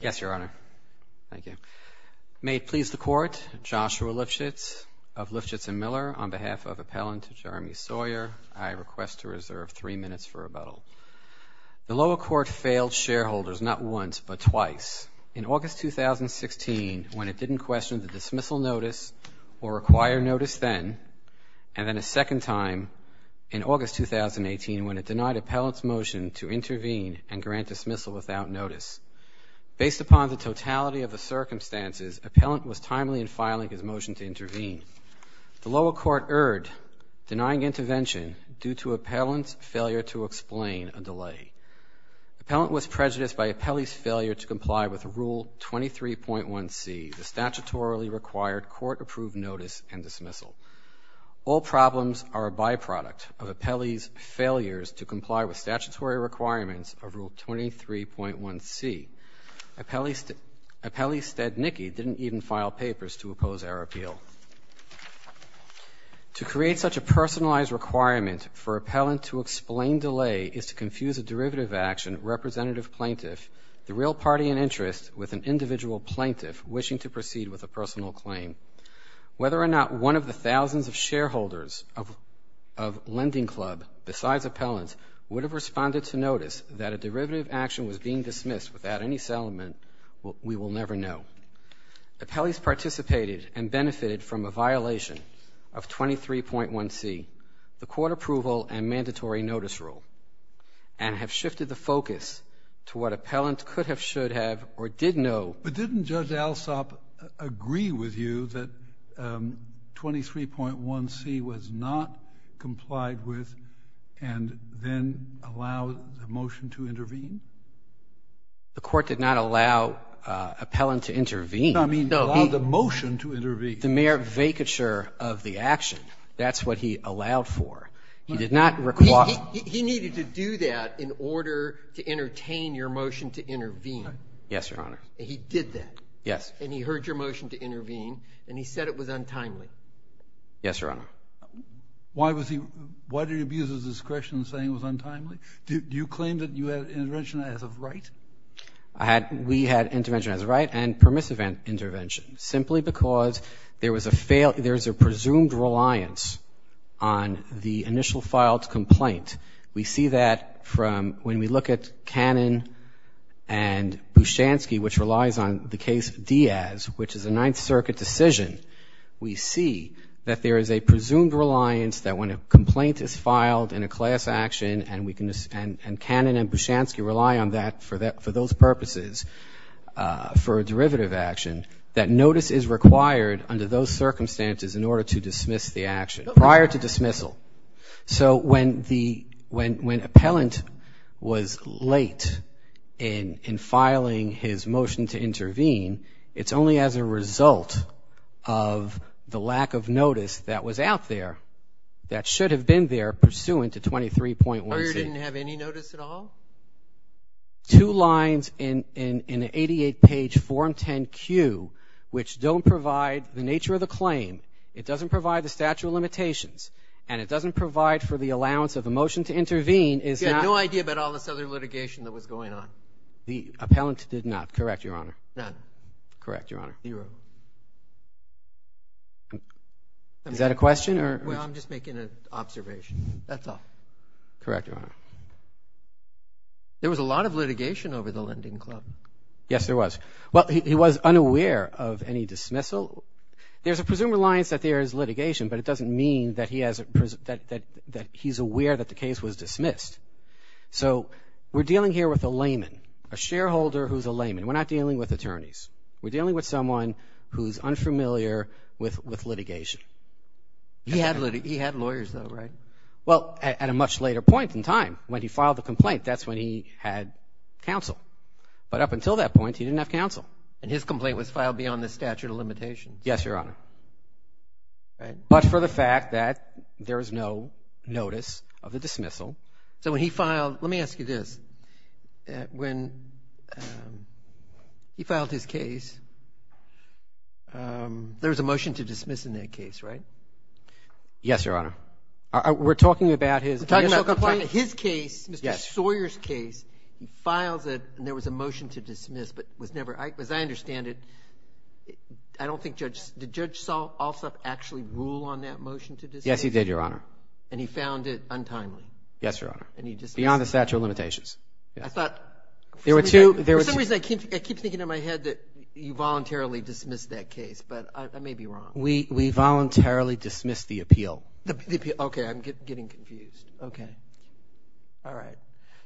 Yes, Your Honor. Thank you. May it please the Court, Joshua Lifshitz of Lifshitz & Miller, on behalf of Appellant Jeremy Sawyer, I request to reserve three minutes for rebuttal. The lower court failed shareholders not once, but twice. In August 2016, when it didn't question the dismissal notice or require notice then, and then a second time in August 2018, when it denied Appellant's motion to intervene and grant dismissal without notice. Based upon the totality of the circumstances, Appellant was timely in filing his motion to intervene. The lower court erred, denying intervention due to Appellant's failure to explain a delay. Appellant was prejudiced by Appellee's failure to comply with Rule 23.1c, the statutorily requirements of Rule 23.1c. Appellee Stadnicki didn't even file papers to oppose our appeal. To create such a personalized requirement for Appellant to explain delay is to confuse a derivative action representative plaintiff, the real party in interest, with an individual plaintiff wishing to proceed with a personal claim. Whether or not one of the thousands of shareholders of Lending Club, besides Appellant, would have responded to notice that a derivative action was being dismissed without any settlement, we will never know. Appellees participated and benefited from a violation of 23.1c, the court approval and mandatory notice rule, and have shifted the focus to what Appellant could have, should have, or did know. But didn't Judge Alsop agree with you that 23.1c was not complied with and then allowed the motion to intervene? The court did not allow Appellant to intervene. No, I mean, allow the motion to intervene. The mere vacature of the action. That's what he allowed for. He did not require He needed to do that in order to entertain your motion to intervene. Yes, Your Honor. And he did that. Yes. And he heard your motion to intervene, and he said it was untimely. Yes, Your Honor. Why did he abuse his discretion in saying it was untimely? Do you claim that you had intervention as of right? We had intervention as of right and permissive intervention, simply because there is a presumed reliance on the initial filed complaint. We see that from when we look at Cannon and Bushansky, which relies on the case Diaz, which is a Ninth Circuit decision. We see that there is a presumed reliance that when a complaint is filed in a class action, and Cannon and Bushansky rely on that for those purposes for a derivative action, that notice is required under those circumstances in order to dismiss the action, prior to dismissal. So when the, when appellant was late in filing his motion to intervene, it's only as a result of the lack of notice that was out there that should have been there pursuant to 23.1c. The lawyer didn't have any notice at all? No. Two lines in the 88-page Form 10-Q, which don't provide the nature of the claim, it doesn't provide the statute of limitations, and it doesn't provide for the allowance of the motion to intervene, is that... You had no idea about all this other litigation that was going on? The appellant did not, correct, Your Honor? None. Correct, Your Honor. Zero. Is that a question or... Well, I'm just making an observation. That's all. Correct, Your Honor. There was a lot of litigation over the lending club. Yes, there was. Well, he was unaware of any dismissal. There's a presumed reliance that there is litigation, but it doesn't mean that he has, that he's aware that the case was dismissed. So we're dealing here with a layman, a shareholder who's a layman. We're not dealing with attorneys. We're dealing with someone who's unfamiliar with litigation. He had lawyers, though, right? Well, at a much later point in time, when he filed the complaint, that's when he had counsel. But up until that point, he didn't have counsel. And his complaint was filed beyond the statute of limitations? Yes, Your Honor. But for the fact that there is no notice of the dismissal. So when he filed, let me ask you this. When he filed his case, there was a motion to dismiss in that case, right? Yes, Your Honor. We're talking about his complaint? We're talking about his case, Mr. Sawyer's case. He files it, and there was a motion to dismiss, but it was never – as I understand it, I don't think Judge – did Judge Alsop actually rule on that motion to dismiss? Yes, he did, Your Honor. And he found it untimely? Yes, Your Honor. And he dismissed it? Beyond the statute of limitations. I thought – There were two – For some reason, I keep thinking in my head that you voluntarily dismissed that case, but I may be wrong. We voluntarily dismissed the appeal. Okay. I'm getting confused. Okay. All right.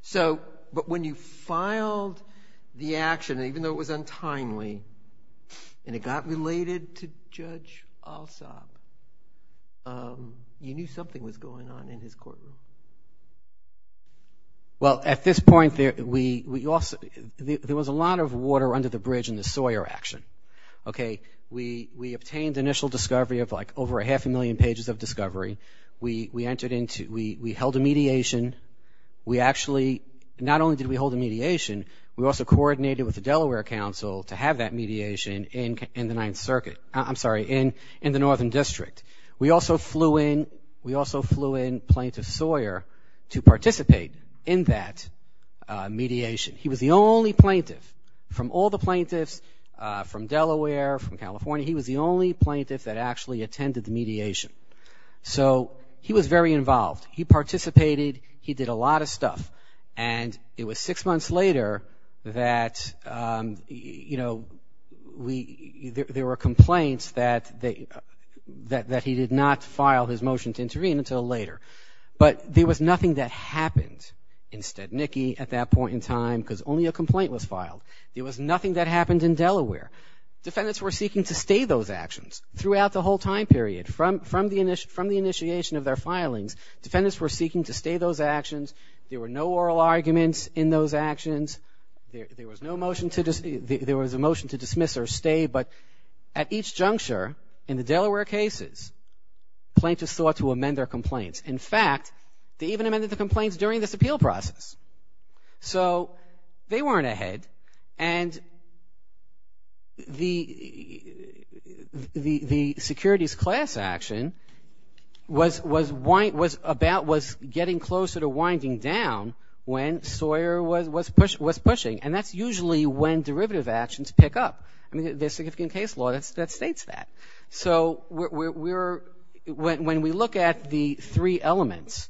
So – but when you filed the action, even though it was untimely, and it got related to Judge Alsop, you knew something was going on in his courtroom? Well, at this point, there was a lot of water under the bridge in the Sawyer action. Okay. We obtained initial discovery of, like, over a half a million pages of discovery. We entered into – we held a mediation. We actually – not only did we hold a mediation, we also coordinated with the Delaware Council to have that mediation in the Ninth Circuit – I'm sorry, in the Northern District. We also flew in – we also flew in Plaintiff Sawyer to participate in that mediation. He was the only plaintiff from all the plaintiffs from Delaware, from California. He was the only plaintiff that actually attended the mediation. So he was very involved. He participated. He did a lot of stuff. And it was six months later that, you know, there were complaints that he did not file his motion to intervene until later. But there was nothing that happened. Instead, Nikki, at that point in time, because only a complaint was filed, there was nothing that happened in Delaware. Defendants were seeking to stay those actions throughout the whole time period. From the initiation of their filings, defendants were seeking to stay those actions. There were no oral arguments in those actions. There was no motion to – there was a motion to dismiss or stay, but at each juncture in the Delaware cases, plaintiffs sought to amend their complaints. In fact, they even amended the complaints during this appeal process. So they weren't ahead, and the securities class action was about – was getting closer to winding down when Sawyer was pushing, and that's usually when derivative actions pick up. I mean, there's significant case law that states that. So when we look at the three elements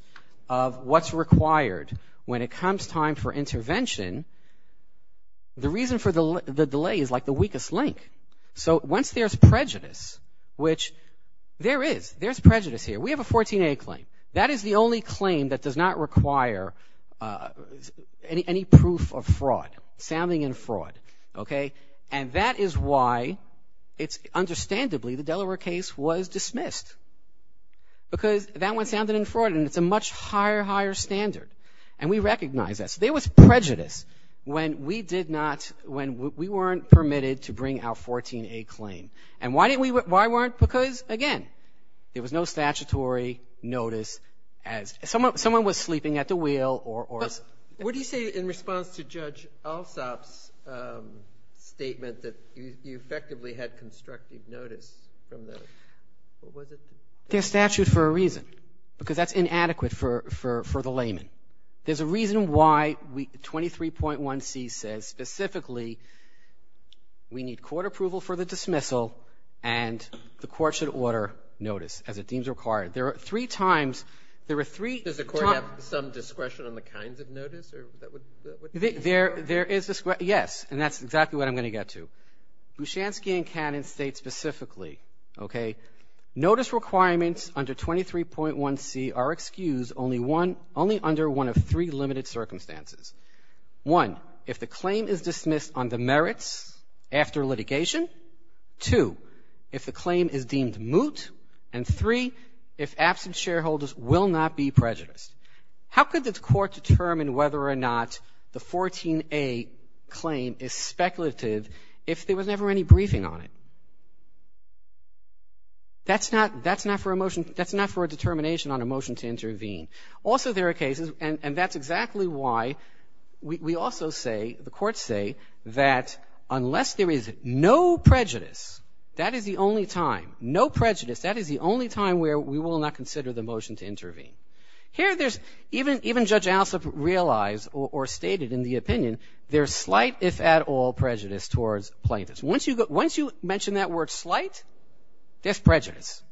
of what's required when it comes time for intervention, the reason for the delay is like the weakest link. So once there's prejudice, which there is. There's prejudice here. We have a 14A claim. That is the only claim that does not require any proof of fraud, sounding in fraud, okay? And that is why it's – understandably, the Delaware case was dismissed because that one sounded in fraud, and it's a much higher, higher standard, and we recognize that. So there was prejudice when we did not – when we weren't permitted to bring our 14A claim. And why didn't we – why weren't? Because, again, there was no statutory notice as – someone was sleeping at the wheel or – that you effectively had constructive notice from the – what was it? They're statute for a reason, because that's inadequate for the layman. There's a reason why 23.1c says specifically we need court approval for the dismissal and the court should order notice as it deems required. There are three times – there are three times – Does the court have some discretion on the kinds of notice that would – There is – yes, and that's exactly what I'm going to get to. Bouchanski and Cannon state specifically, okay, notice requirements under 23.1c are excused only under one of three limited circumstances. One, if the claim is dismissed on the merits after litigation. Two, if the claim is deemed moot. And three, if absent shareholders will not be prejudiced. How could the court determine whether or not the 14a claim is speculative if there was never any briefing on it? That's not – that's not for a motion – that's not for a determination on a motion to intervene. Also, there are cases – and that's exactly why we also say, the courts say, that unless there is no prejudice, that is the only time, no prejudice, that is the only time where we will not consider the motion to intervene. Here there's – even Judge Alsop realized or stated in the opinion, there's slight, if at all, prejudice towards plaintiffs. Once you mention that word slight, there's prejudice.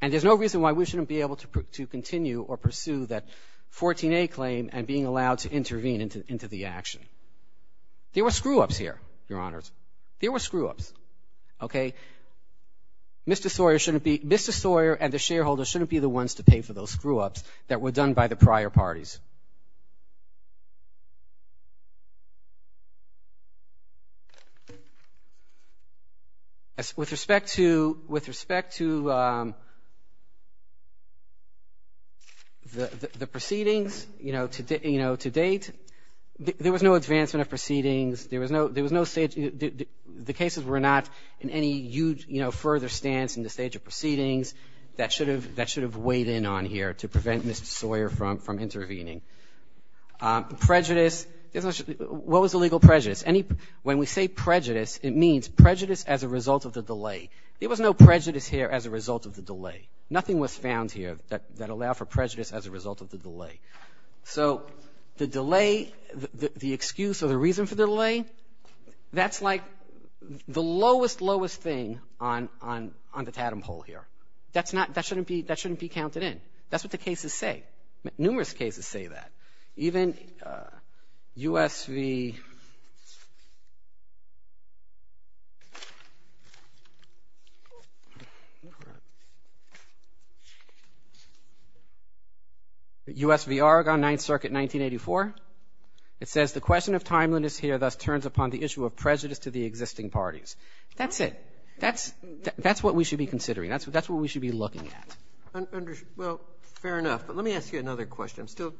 And there's no reason why we shouldn't be able to continue or pursue that 14a claim and being allowed to intervene into the action. There were screw-ups here, Your Honors. There were screw-ups, okay? Mr. Sawyer shouldn't be – Mr. Sawyer and the shareholders shouldn't be the ones to pay for those screw-ups that were done by the prior parties. With respect to – with respect to the proceedings, you know, to date, there was no advancement of proceedings. There was no – there was no – the cases were not in any further stance in the stage of proceedings that should have weighed in on here to prevent Mr. Sawyer from intervening. Prejudice – what was the legal prejudice? When we say prejudice, it means prejudice as a result of the delay. There was no prejudice here as a result of the delay. Nothing was found here that allowed for prejudice as a result of the delay. So the delay, the excuse or the reason for the delay, that's like the lowest, lowest thing on the tatem pole here. That's not – that shouldn't be – that shouldn't be counted in. That's what the cases say. Numerous cases say that. Even U.S. v. Oregon, 9th Circuit, 1984. It says the question of timeliness here thus turns upon the issue of prejudice to the existing parties. That's it. That's what we should be considering. That's what we should be looking at. Well, fair enough. But let me ask you another question. I'm still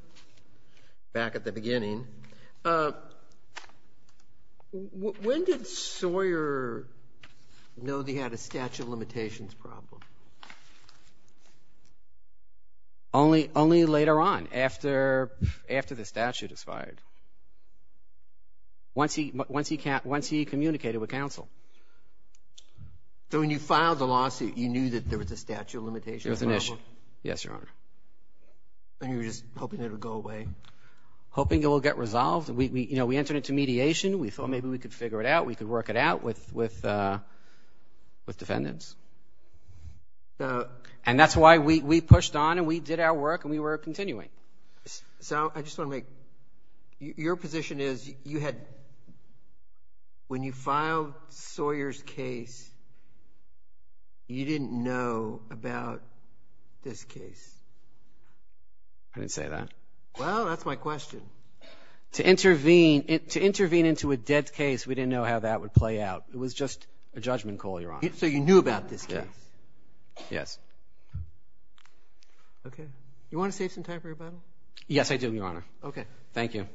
back at the beginning. When did Sawyer know that he had a statute of limitations problem? Only later on, after the statute is fired. Once he communicated with counsel. So when you filed the lawsuit, you knew that there was a statute of limitations problem? It was an issue. Yes, Your Honor. And you were just hoping it would go away? Hoping it would get resolved. We entered into mediation. We thought maybe we could figure it out. We could work it out with defendants. And that's why we pushed on and we did our work and we were continuing. So I just want to make – your position is you had – when you filed Sawyer's case, you didn't know about this case? I didn't say that. Well, that's my question. To intervene into a dead case, we didn't know how that would play out. It was just a judgment call, Your Honor. So you knew about this case? Yes. Okay. You want to save some time for your Bible? Yes, I do, Your Honor. Okay. Thank you.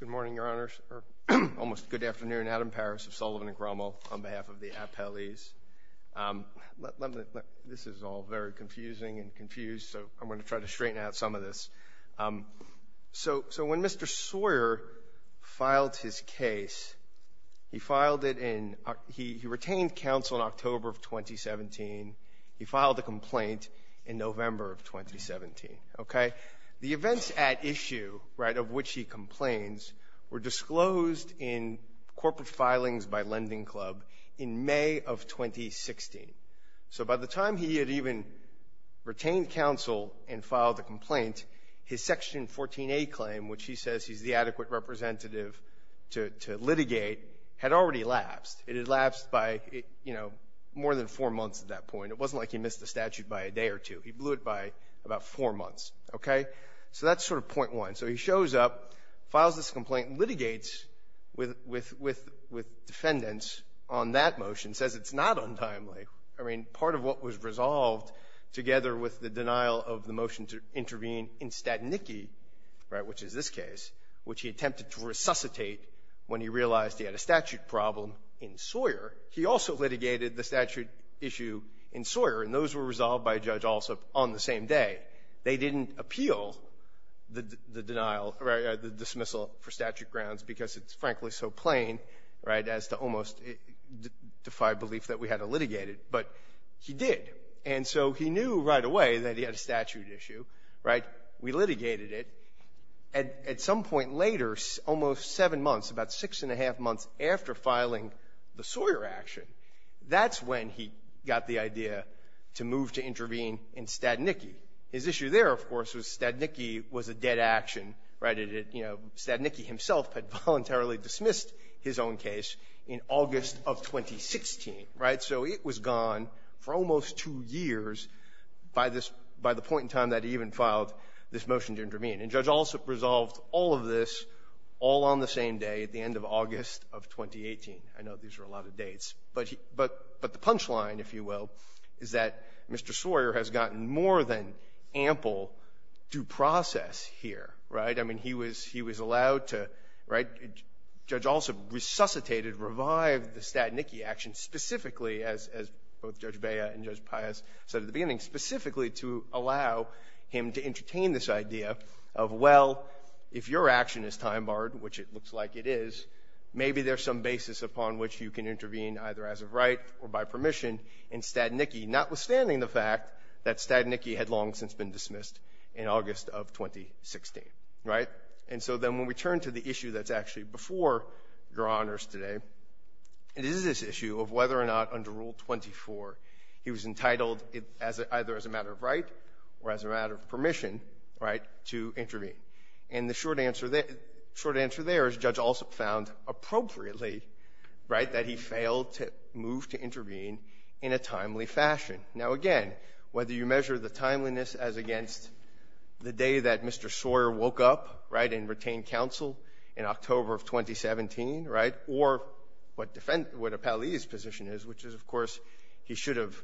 Good morning, Your Honors, or almost good afternoon. Adam Parris of Sullivan and Grummel on behalf of the appellees. This is all very confusing and confused, so I'm going to try to straighten out some of this. So when Mr. Sawyer filed his case, he filed it in – he retained counsel in October of 2017. He filed a complaint in November of 2017. Okay? The events at issue, right, of which he complains, were disclosed in corporate filings by Lending Club in May of 2016. So by the time he had even retained counsel and filed the complaint, his Section 14a claim, which he says he's the adequate representative to litigate, had already lapsed. It had lapsed by, you know, more than four months at that point. It wasn't like he missed the statute by a day or two. He blew it by about four months. Okay? So that's sort of point one. So he shows up, files this complaint, litigates with defendants on that motion, says it's not untimely. I mean, part of what was resolved together with the denial of the motion to intervene in Statnicki, right, which is this case, which he attempted to resuscitate when he realized he had a statute problem in Sawyer, he also litigated the statute issue in Sawyer, and those were resolved by Judge Alsop on the same day. They didn't appeal the denial or the dismissal for statute grounds because it's frankly so plain, right, as to almost defy belief that we had to litigate it. But he did. And so he knew right away that he had a statute issue, right? We litigated it. At some point later, almost seven months, about six and a half months after filing the Sawyer action, that's when he got the idea to move to intervene in Statnicki. His issue there, of course, was Statnicki was a dead action, right? You know, Statnicki himself had voluntarily dismissed his own case in August of 2016, right? So it was gone for almost two years by the point in time that he even filed this motion to intervene. And Judge Alsop resolved all of this all on the same day at the end of August of 2018. I know these are a lot of dates. But the punchline, if you will, is that Mr. Sawyer has gotten more than ample due process here, right? I mean, he was allowed to, right, Judge Alsop resuscitated, revived the Statnicki action specifically, as both Judge Bea and Judge Pius said at the beginning, specifically to allow him to entertain this idea of, well, if your action is time barred, which it looks like it is, maybe there's some basis upon which you can intervene either as of right or by permission in Statnicki, notwithstanding the fact that Statnicki had long since been dismissed in August of 2016, right? And so then when we turn to the issue that's actually before Your Honors today, it is this issue of whether or not under Rule 24 he was entitled either as a matter of right or as a matter of permission to intervene. And the short answer there is Judge Alsop found appropriately that he failed to move to intervene in a timely fashion. Now, again, whether you measure the timeliness as against the day that Mr. Sawyer woke up and retained counsel in October of 2017, right, or what Appellee's position is, which is, of course, he should have,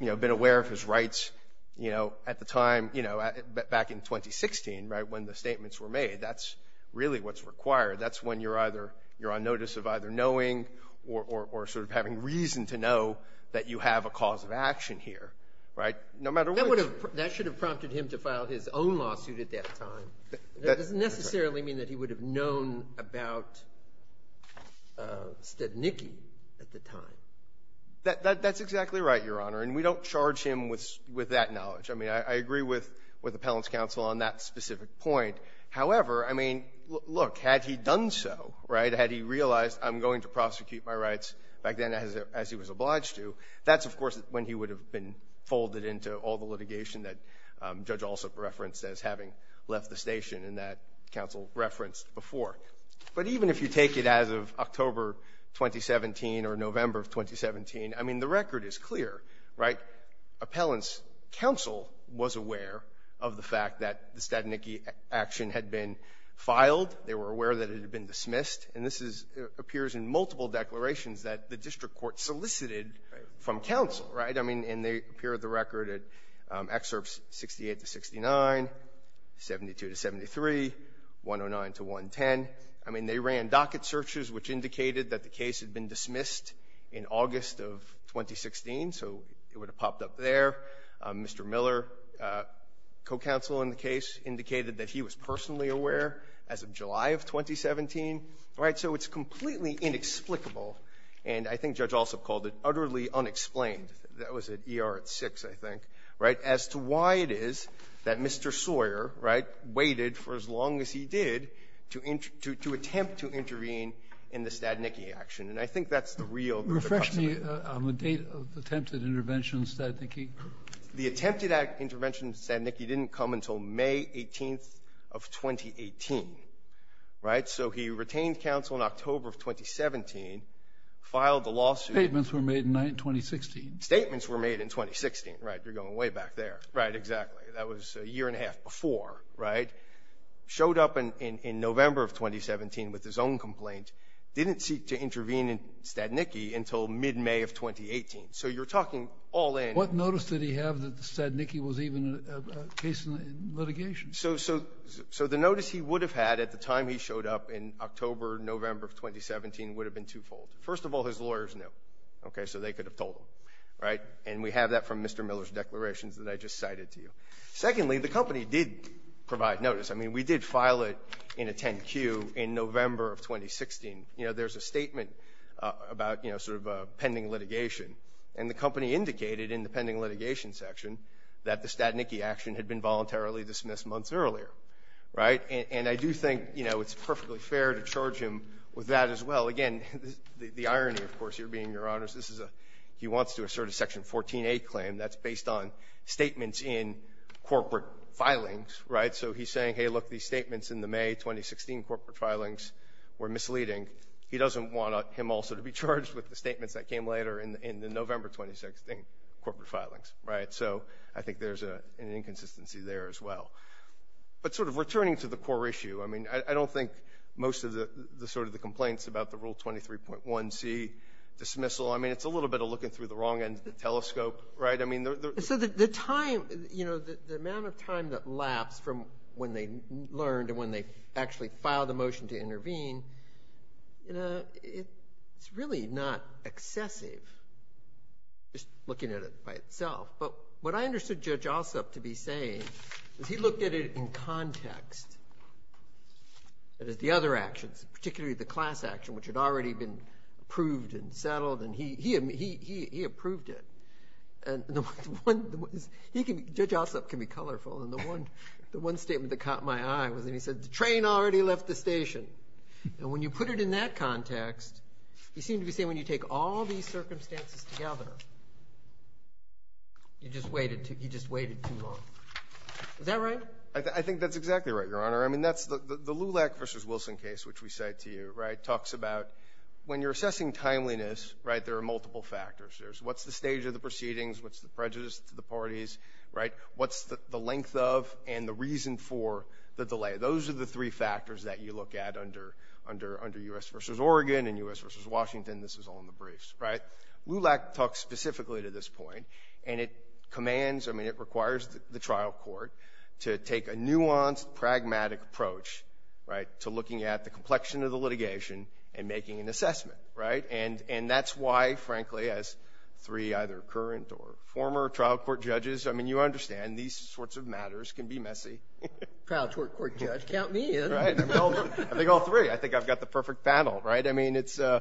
you know, been aware of his rights, you know, at the time, you know, back in 2016, right, when the statements were made. That's really what's required. That's when you're on notice of either knowing or sort of having reason to know that you have a cause of action here, right, no matter what. That should have prompted him to file his own lawsuit at that time. That doesn't necessarily mean that he would have known about Stednicki at the time. That's exactly right, Your Honor, and we don't charge him with that knowledge. I mean, I agree with Appellant's counsel on that specific point. However, I mean, look, had he done so, right, had he realized I'm going to prosecute my rights back then as he was obliged to, that's, of course, when he would have been folded into all the litigation that Judge Alsop referenced as having left the station and that counsel referenced before. But even if you take it as of October 2017 or November of 2017, I mean, the record is clear, right? Appellant's counsel was aware of the fact that the Stednicki action had been filed. They were aware that it had been dismissed, and this appears in multiple declarations that the district court solicited from counsel, right? I mean, and they appear in the record at Excerpts 68 to 69, 72 to 73, 109 to 110. I mean, they ran docket searches, which indicated that the case had been dismissed in August of 2016, so it would have popped up there. Mr. Miller, co-counsel in the case, indicated that he was personally aware as of July of 2017, right? So it's completely inexplicable, and I think Judge Alsop called it utterly unexplained. That was at ER at 6, I think, right, as to why it is that Mr. Sawyer, right, waited for as long as he did to attempt to intervene in the Stednicki action. And I think that's the real question. On the date of attempted intervention in Stednicki? The attempted intervention in Stednicki didn't come until May 18th of 2018, right? So he retained counsel in October of 2017, filed the lawsuit. Statements were made in 2016. Statements were made in 2016, right? You're going way back there. Right, exactly. That was a year and a half before, right? Showed up in November of 2017 with his own complaint. Didn't seek to intervene in Stednicki until mid-May of 2018. So you're talking all in. What notice did he have that Stednicki was even a case in litigation? So the notice he would have had at the time he showed up in October, November of 2017 would have been twofold. First of all, his lawyers knew, okay, so they could have told him, right? And we have that from Mr. Miller's declarations that I just cited to you. Secondly, the company did provide notice. I mean, we did file it in a 10-Q in November of 2016. You know, there's a statement about, you know, sort of pending litigation. And the company indicated in the pending litigation section that the Stednicki action had been voluntarily dismissed months earlier. Right? And I do think, you know, it's perfectly fair to charge him with that as well. Again, the irony, of course, Your Being, Your Honors, this is a he wants to assert a Section 14a claim. That's based on statements in corporate filings. Right? So he's saying, hey, look, these statements in the May 2016 corporate filings were misleading. He doesn't want him also to be charged with the statements that came later in the November 2016 corporate filings. Right? So I think there's an inconsistency there as well. But sort of returning to the core issue, I mean, I don't think most of the sort of the complaints about the Rule 23.1C dismissal, I mean, it's a little bit of looking through the wrong end of the telescope. Right? So the time, you know, the amount of time that lapsed from when they learned and when they actually filed a motion to intervene, you know, it's really not excessive just looking at it by itself. But what I understood Judge Alsup to be saying is he looked at it in context. That is, the other actions, particularly the class action, which had already been approved and settled. And he approved it. And Judge Alsup can be colorful. And the one statement that caught my eye was when he said the train already left the station. And when you put it in that context, he seemed to be saying when you take all these circumstances together, he just waited too long. Is that right? I think that's exactly right, Your Honor. I mean, the LULAC v. Wilson case, which we cite to you, right, talks about when you're assessing timeliness, right, there are multiple factors. There's what's the stage of the proceedings, what's the prejudice to the parties, right? What's the length of and the reason for the delay? Those are the three factors that you look at under U.S. v. Oregon and U.S. v. Washington. This is all in the briefs, right? LULAC talks specifically to this point, and it commands, I mean, it requires the trial court to take a nuanced, pragmatic approach, right, to looking at the complexion of the litigation and making an assessment, right? And that's why, frankly, as three either current or former trial court judges, I mean, you understand these sorts of matters can be messy. Trial court judge, count me in. I think all three. I think I've got the perfect panel, right? I mean, these can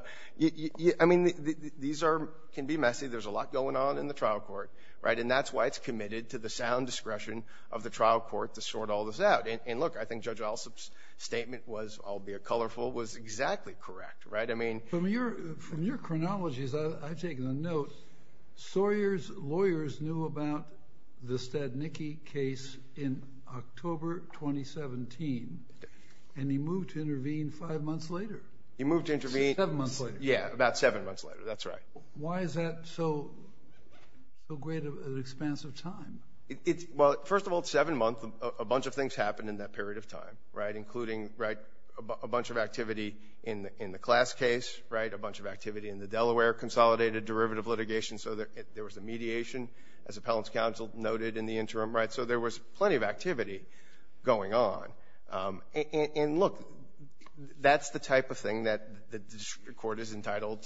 be messy. There's a lot going on in the trial court, right? And that's why it's committed to the sound discretion of the trial court to sort all this out. And, look, I think Judge Alsop's statement was, albeit colorful, was exactly correct, right? From your chronologies, I've taken a note. Sawyer's lawyers knew about the Stadnicki case in October 2017, and he moved to intervene five months later. He moved to intervene. Seven months later. Yeah, about seven months later. That's right. Why is that so great an expanse of time? Well, first of all, seven months, a bunch of things happened in that period of time, right, including a bunch of activity in the class case, right, a bunch of activity in the Delaware, consolidated derivative litigation, so there was a mediation, as appellant's counsel noted, in the interim, right? So there was plenty of activity going on. And, look, that's the type of thing that the court is entitled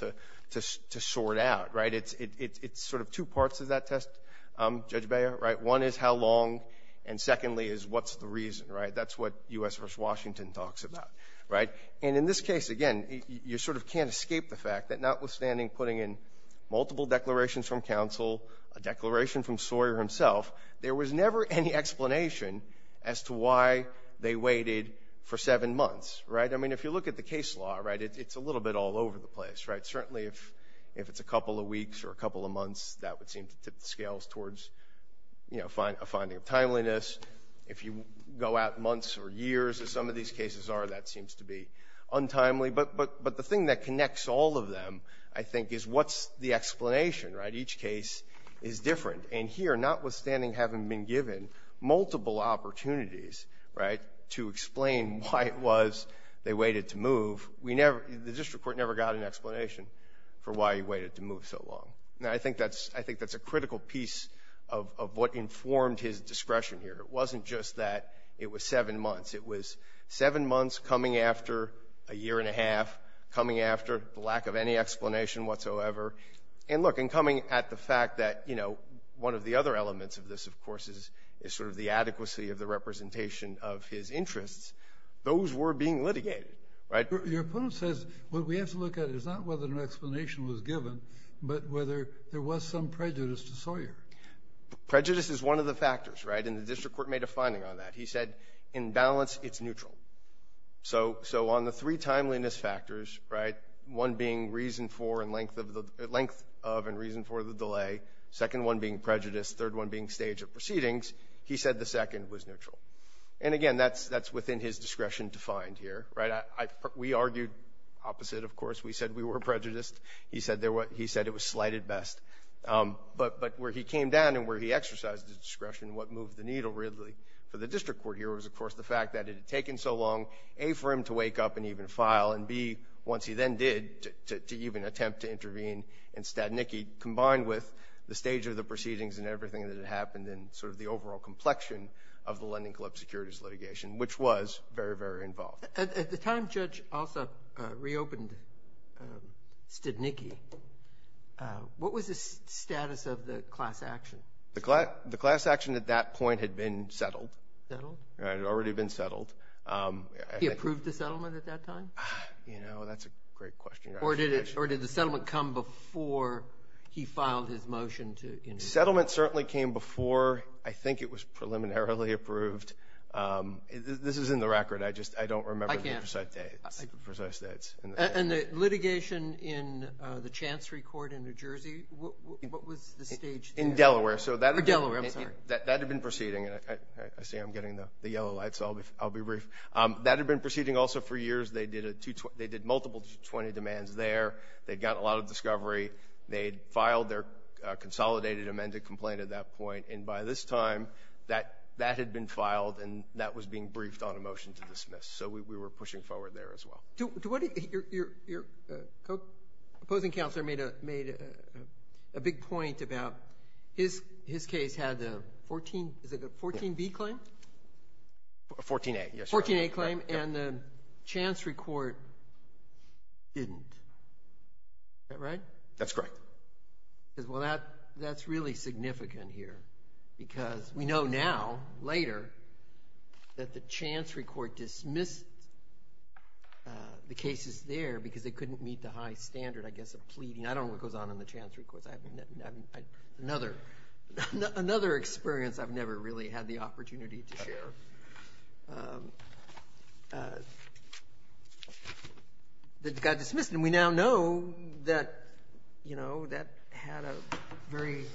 to sort out, right? It's sort of two parts of that test, Judge Beyer, right? One is how long, and secondly is what's the reason, right? That's what U.S. v. Washington talks about, right? And in this case, again, you sort of can't escape the fact that notwithstanding putting in multiple declarations from counsel, a declaration from Sawyer himself, there was never any explanation as to why they waited for seven months, right? I mean, if you look at the case law, right, it's a little bit all over the place, right? Certainly if it's a couple of weeks or a couple of months, that would seem to tip the scales towards, you know, a finding of timeliness. If you go out months or years, as some of these cases are, that seems to be untimely. But the thing that connects all of them, I think, is what's the explanation, right? Each case is different. And here, notwithstanding having been given multiple opportunities, right, to explain why it was they waited to move, the district court never got an explanation for why he waited to move so long. Now, I think that's a critical piece of what informed his discretion here. It wasn't just that it was seven months. It was seven months coming after a year and a half, coming after the lack of any explanation whatsoever. And look, in coming at the fact that, you know, one of the other elements of this, of course, is sort of the adequacy of the representation of his interests, those were being litigated, right? Your opponent says what we have to look at is not whether an explanation was given, but whether there was some prejudice to Sawyer. Prejudice is one of the factors, right? And the district court made a finding on that. He said, in balance, it's neutral. So on the three timeliness factors, right, one being reason for and length of and reason for the delay, second one being prejudice, third one being stage of proceedings, he said the second was neutral. And, again, that's within his discretion to find here, right? We argued opposite, of course. We said we were prejudiced. He said it was slighted best. But where he came down and where he exercised his discretion and what moved the needle really for the district court here was, of course, the fact that it had taken so long, A, for him to wake up and even file, and, B, once he then did, to even attempt to intervene in Stadnicki, combined with the stage of the proceedings and everything that had happened and sort of the overall complexion of the Lending Club securities litigation, which was very, very involved. At the time Judge Alsop reopened Stadnicki, what was the status of the class action? The class action at that point had been settled. Settled? It had already been settled. He approved the settlement at that time? You know, that's a great question. Or did the settlement come before he filed his motion to intervene? The settlement certainly came before I think it was preliminarily approved. This is in the record. I just don't remember the precise dates. And the litigation in the Chancery Court in New Jersey, what was the stage there? In Delaware. Or Delaware, I'm sorry. That had been proceeding. I see I'm getting the yellow light, so I'll be brief. That had been proceeding also for years. They did multiple 20 demands there. They'd gotten a lot of discovery. They'd filed their consolidated amended complaint at that point, and by this time that had been filed and that was being briefed on a motion to dismiss. So we were pushing forward there as well. Your opposing counselor made a big point about his case had a 14B claim? A 14A, yes. A 14A claim, and the Chancery Court didn't. Is that right? That's correct. Well, that's really significant here because we know now, later, that the Chancery Court dismissed the cases there because they couldn't meet the high standard, I guess, of pleading. I don't know what goes on in the Chancery Court. Another experience I've never really had the opportunity to share. They got dismissed, and we now know that that had a very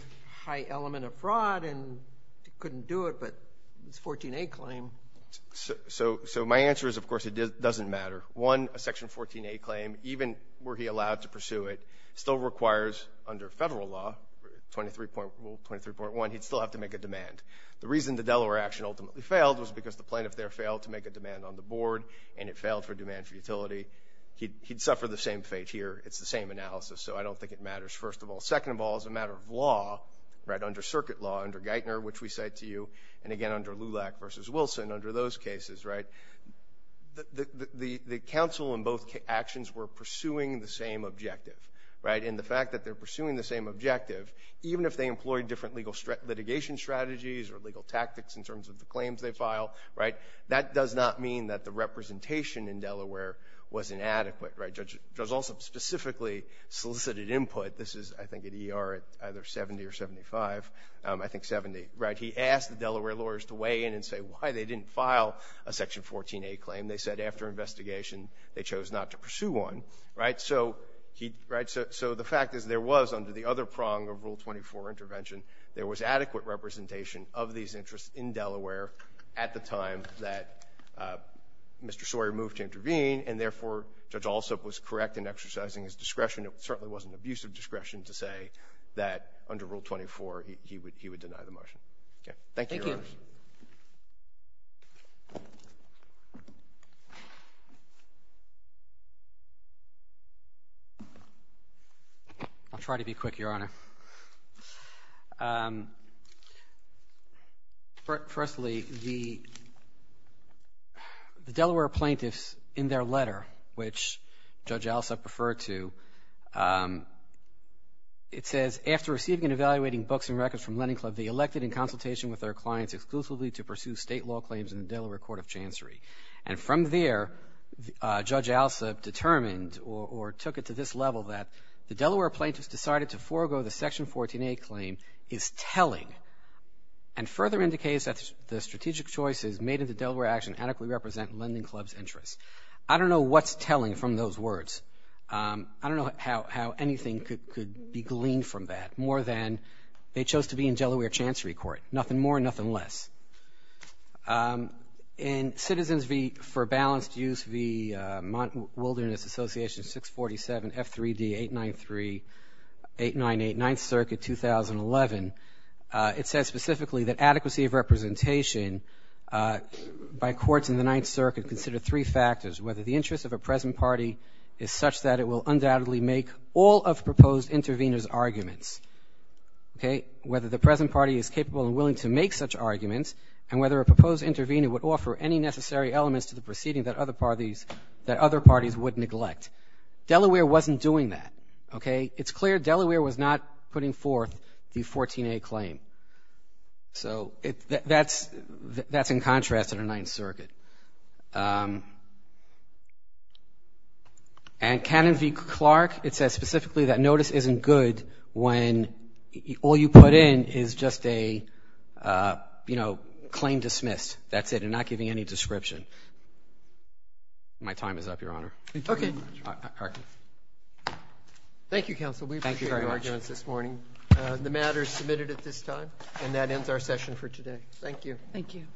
high element of fraud and couldn't do it, but this 14A claim. So my answer is, of course, it doesn't matter. One, a Section 14A claim, even were he allowed to pursue it, still requires under federal law, 23.1, he'd still have to make a demand. The reason the Delaware action ultimately failed was because the plaintiff there failed to make a demand on the board, and it failed for demand for utility. He'd suffer the same fate here. It's the same analysis, so I don't think it matters, first of all. Second of all, as a matter of law, under circuit law, under Geithner, which we cite to you, and again, under Lulak v. Wilson, under those cases, the counsel in both actions were pursuing the same objective, and the fact that they're pursuing the same objective, even if they employed different litigation strategies or legal tactics in terms of the claims they file, that does not mean that the representation in Delaware was inadequate. Judge Alsop specifically solicited input. This is, I think, at ER at either 70 or 75, I think 70. He asked the Delaware lawyers to weigh in and say why they didn't file a Section 14A claim. They said after investigation, they chose not to pursue one. So the fact is there was, under the other prong of Rule 24 intervention, there was adequate representation of these interests in Delaware at the time that Mr. Sawyer moved to intervene, and therefore Judge Alsop was correct in exercising his discretion. It certainly wasn't abusive discretion to say that under Rule 24 he would deny the motion. Thank you, Your Honor. Thank you. I'll try to be quick, Your Honor. Firstly, the Delaware plaintiffs in their letter, which Judge Alsop referred to, it says, after receiving and evaluating books and records from Lending Club, they elected in consultation with their clients exclusively to pursue state law claims in the Delaware Court of Chancery. And from there, Judge Alsop determined or took it to this level that the Delaware plaintiffs decided to forego the Section 14A claim is telling and further indicates that the strategic choices made in the Delaware action adequately represent Lending Club's interests. I don't know what's telling from those words. I don't know how anything could be gleaned from that, more than they chose to be in Delaware Chancery Court, nothing more, nothing less. In Citizens v. For Balanced Use v. Wilderness Association 647 F3D 893-898, 9th Circuit, 2011, it says specifically that adequacy of representation by courts in the 9th Circuit considered three factors, whether the interest of a present party is such that it will undoubtedly make all of proposed intervener's arguments, okay, whether the present party is capable and willing to make such arguments, and whether a proposed intervener would offer any necessary elements to the proceeding that other parties would neglect. Delaware wasn't doing that, okay. It's clear Delaware was not putting forth the 14A claim. So that's in contrast to the 9th Circuit. And Canon v. Clark, it says specifically that notice isn't good when all you put in is just a claim dismissed, that's it, and not giving any description. My time is up, Your Honor. Thank you, Counsel. We appreciate your arguments this morning. The matter is submitted at this time, and that ends our session for today. Thank you. Thank you.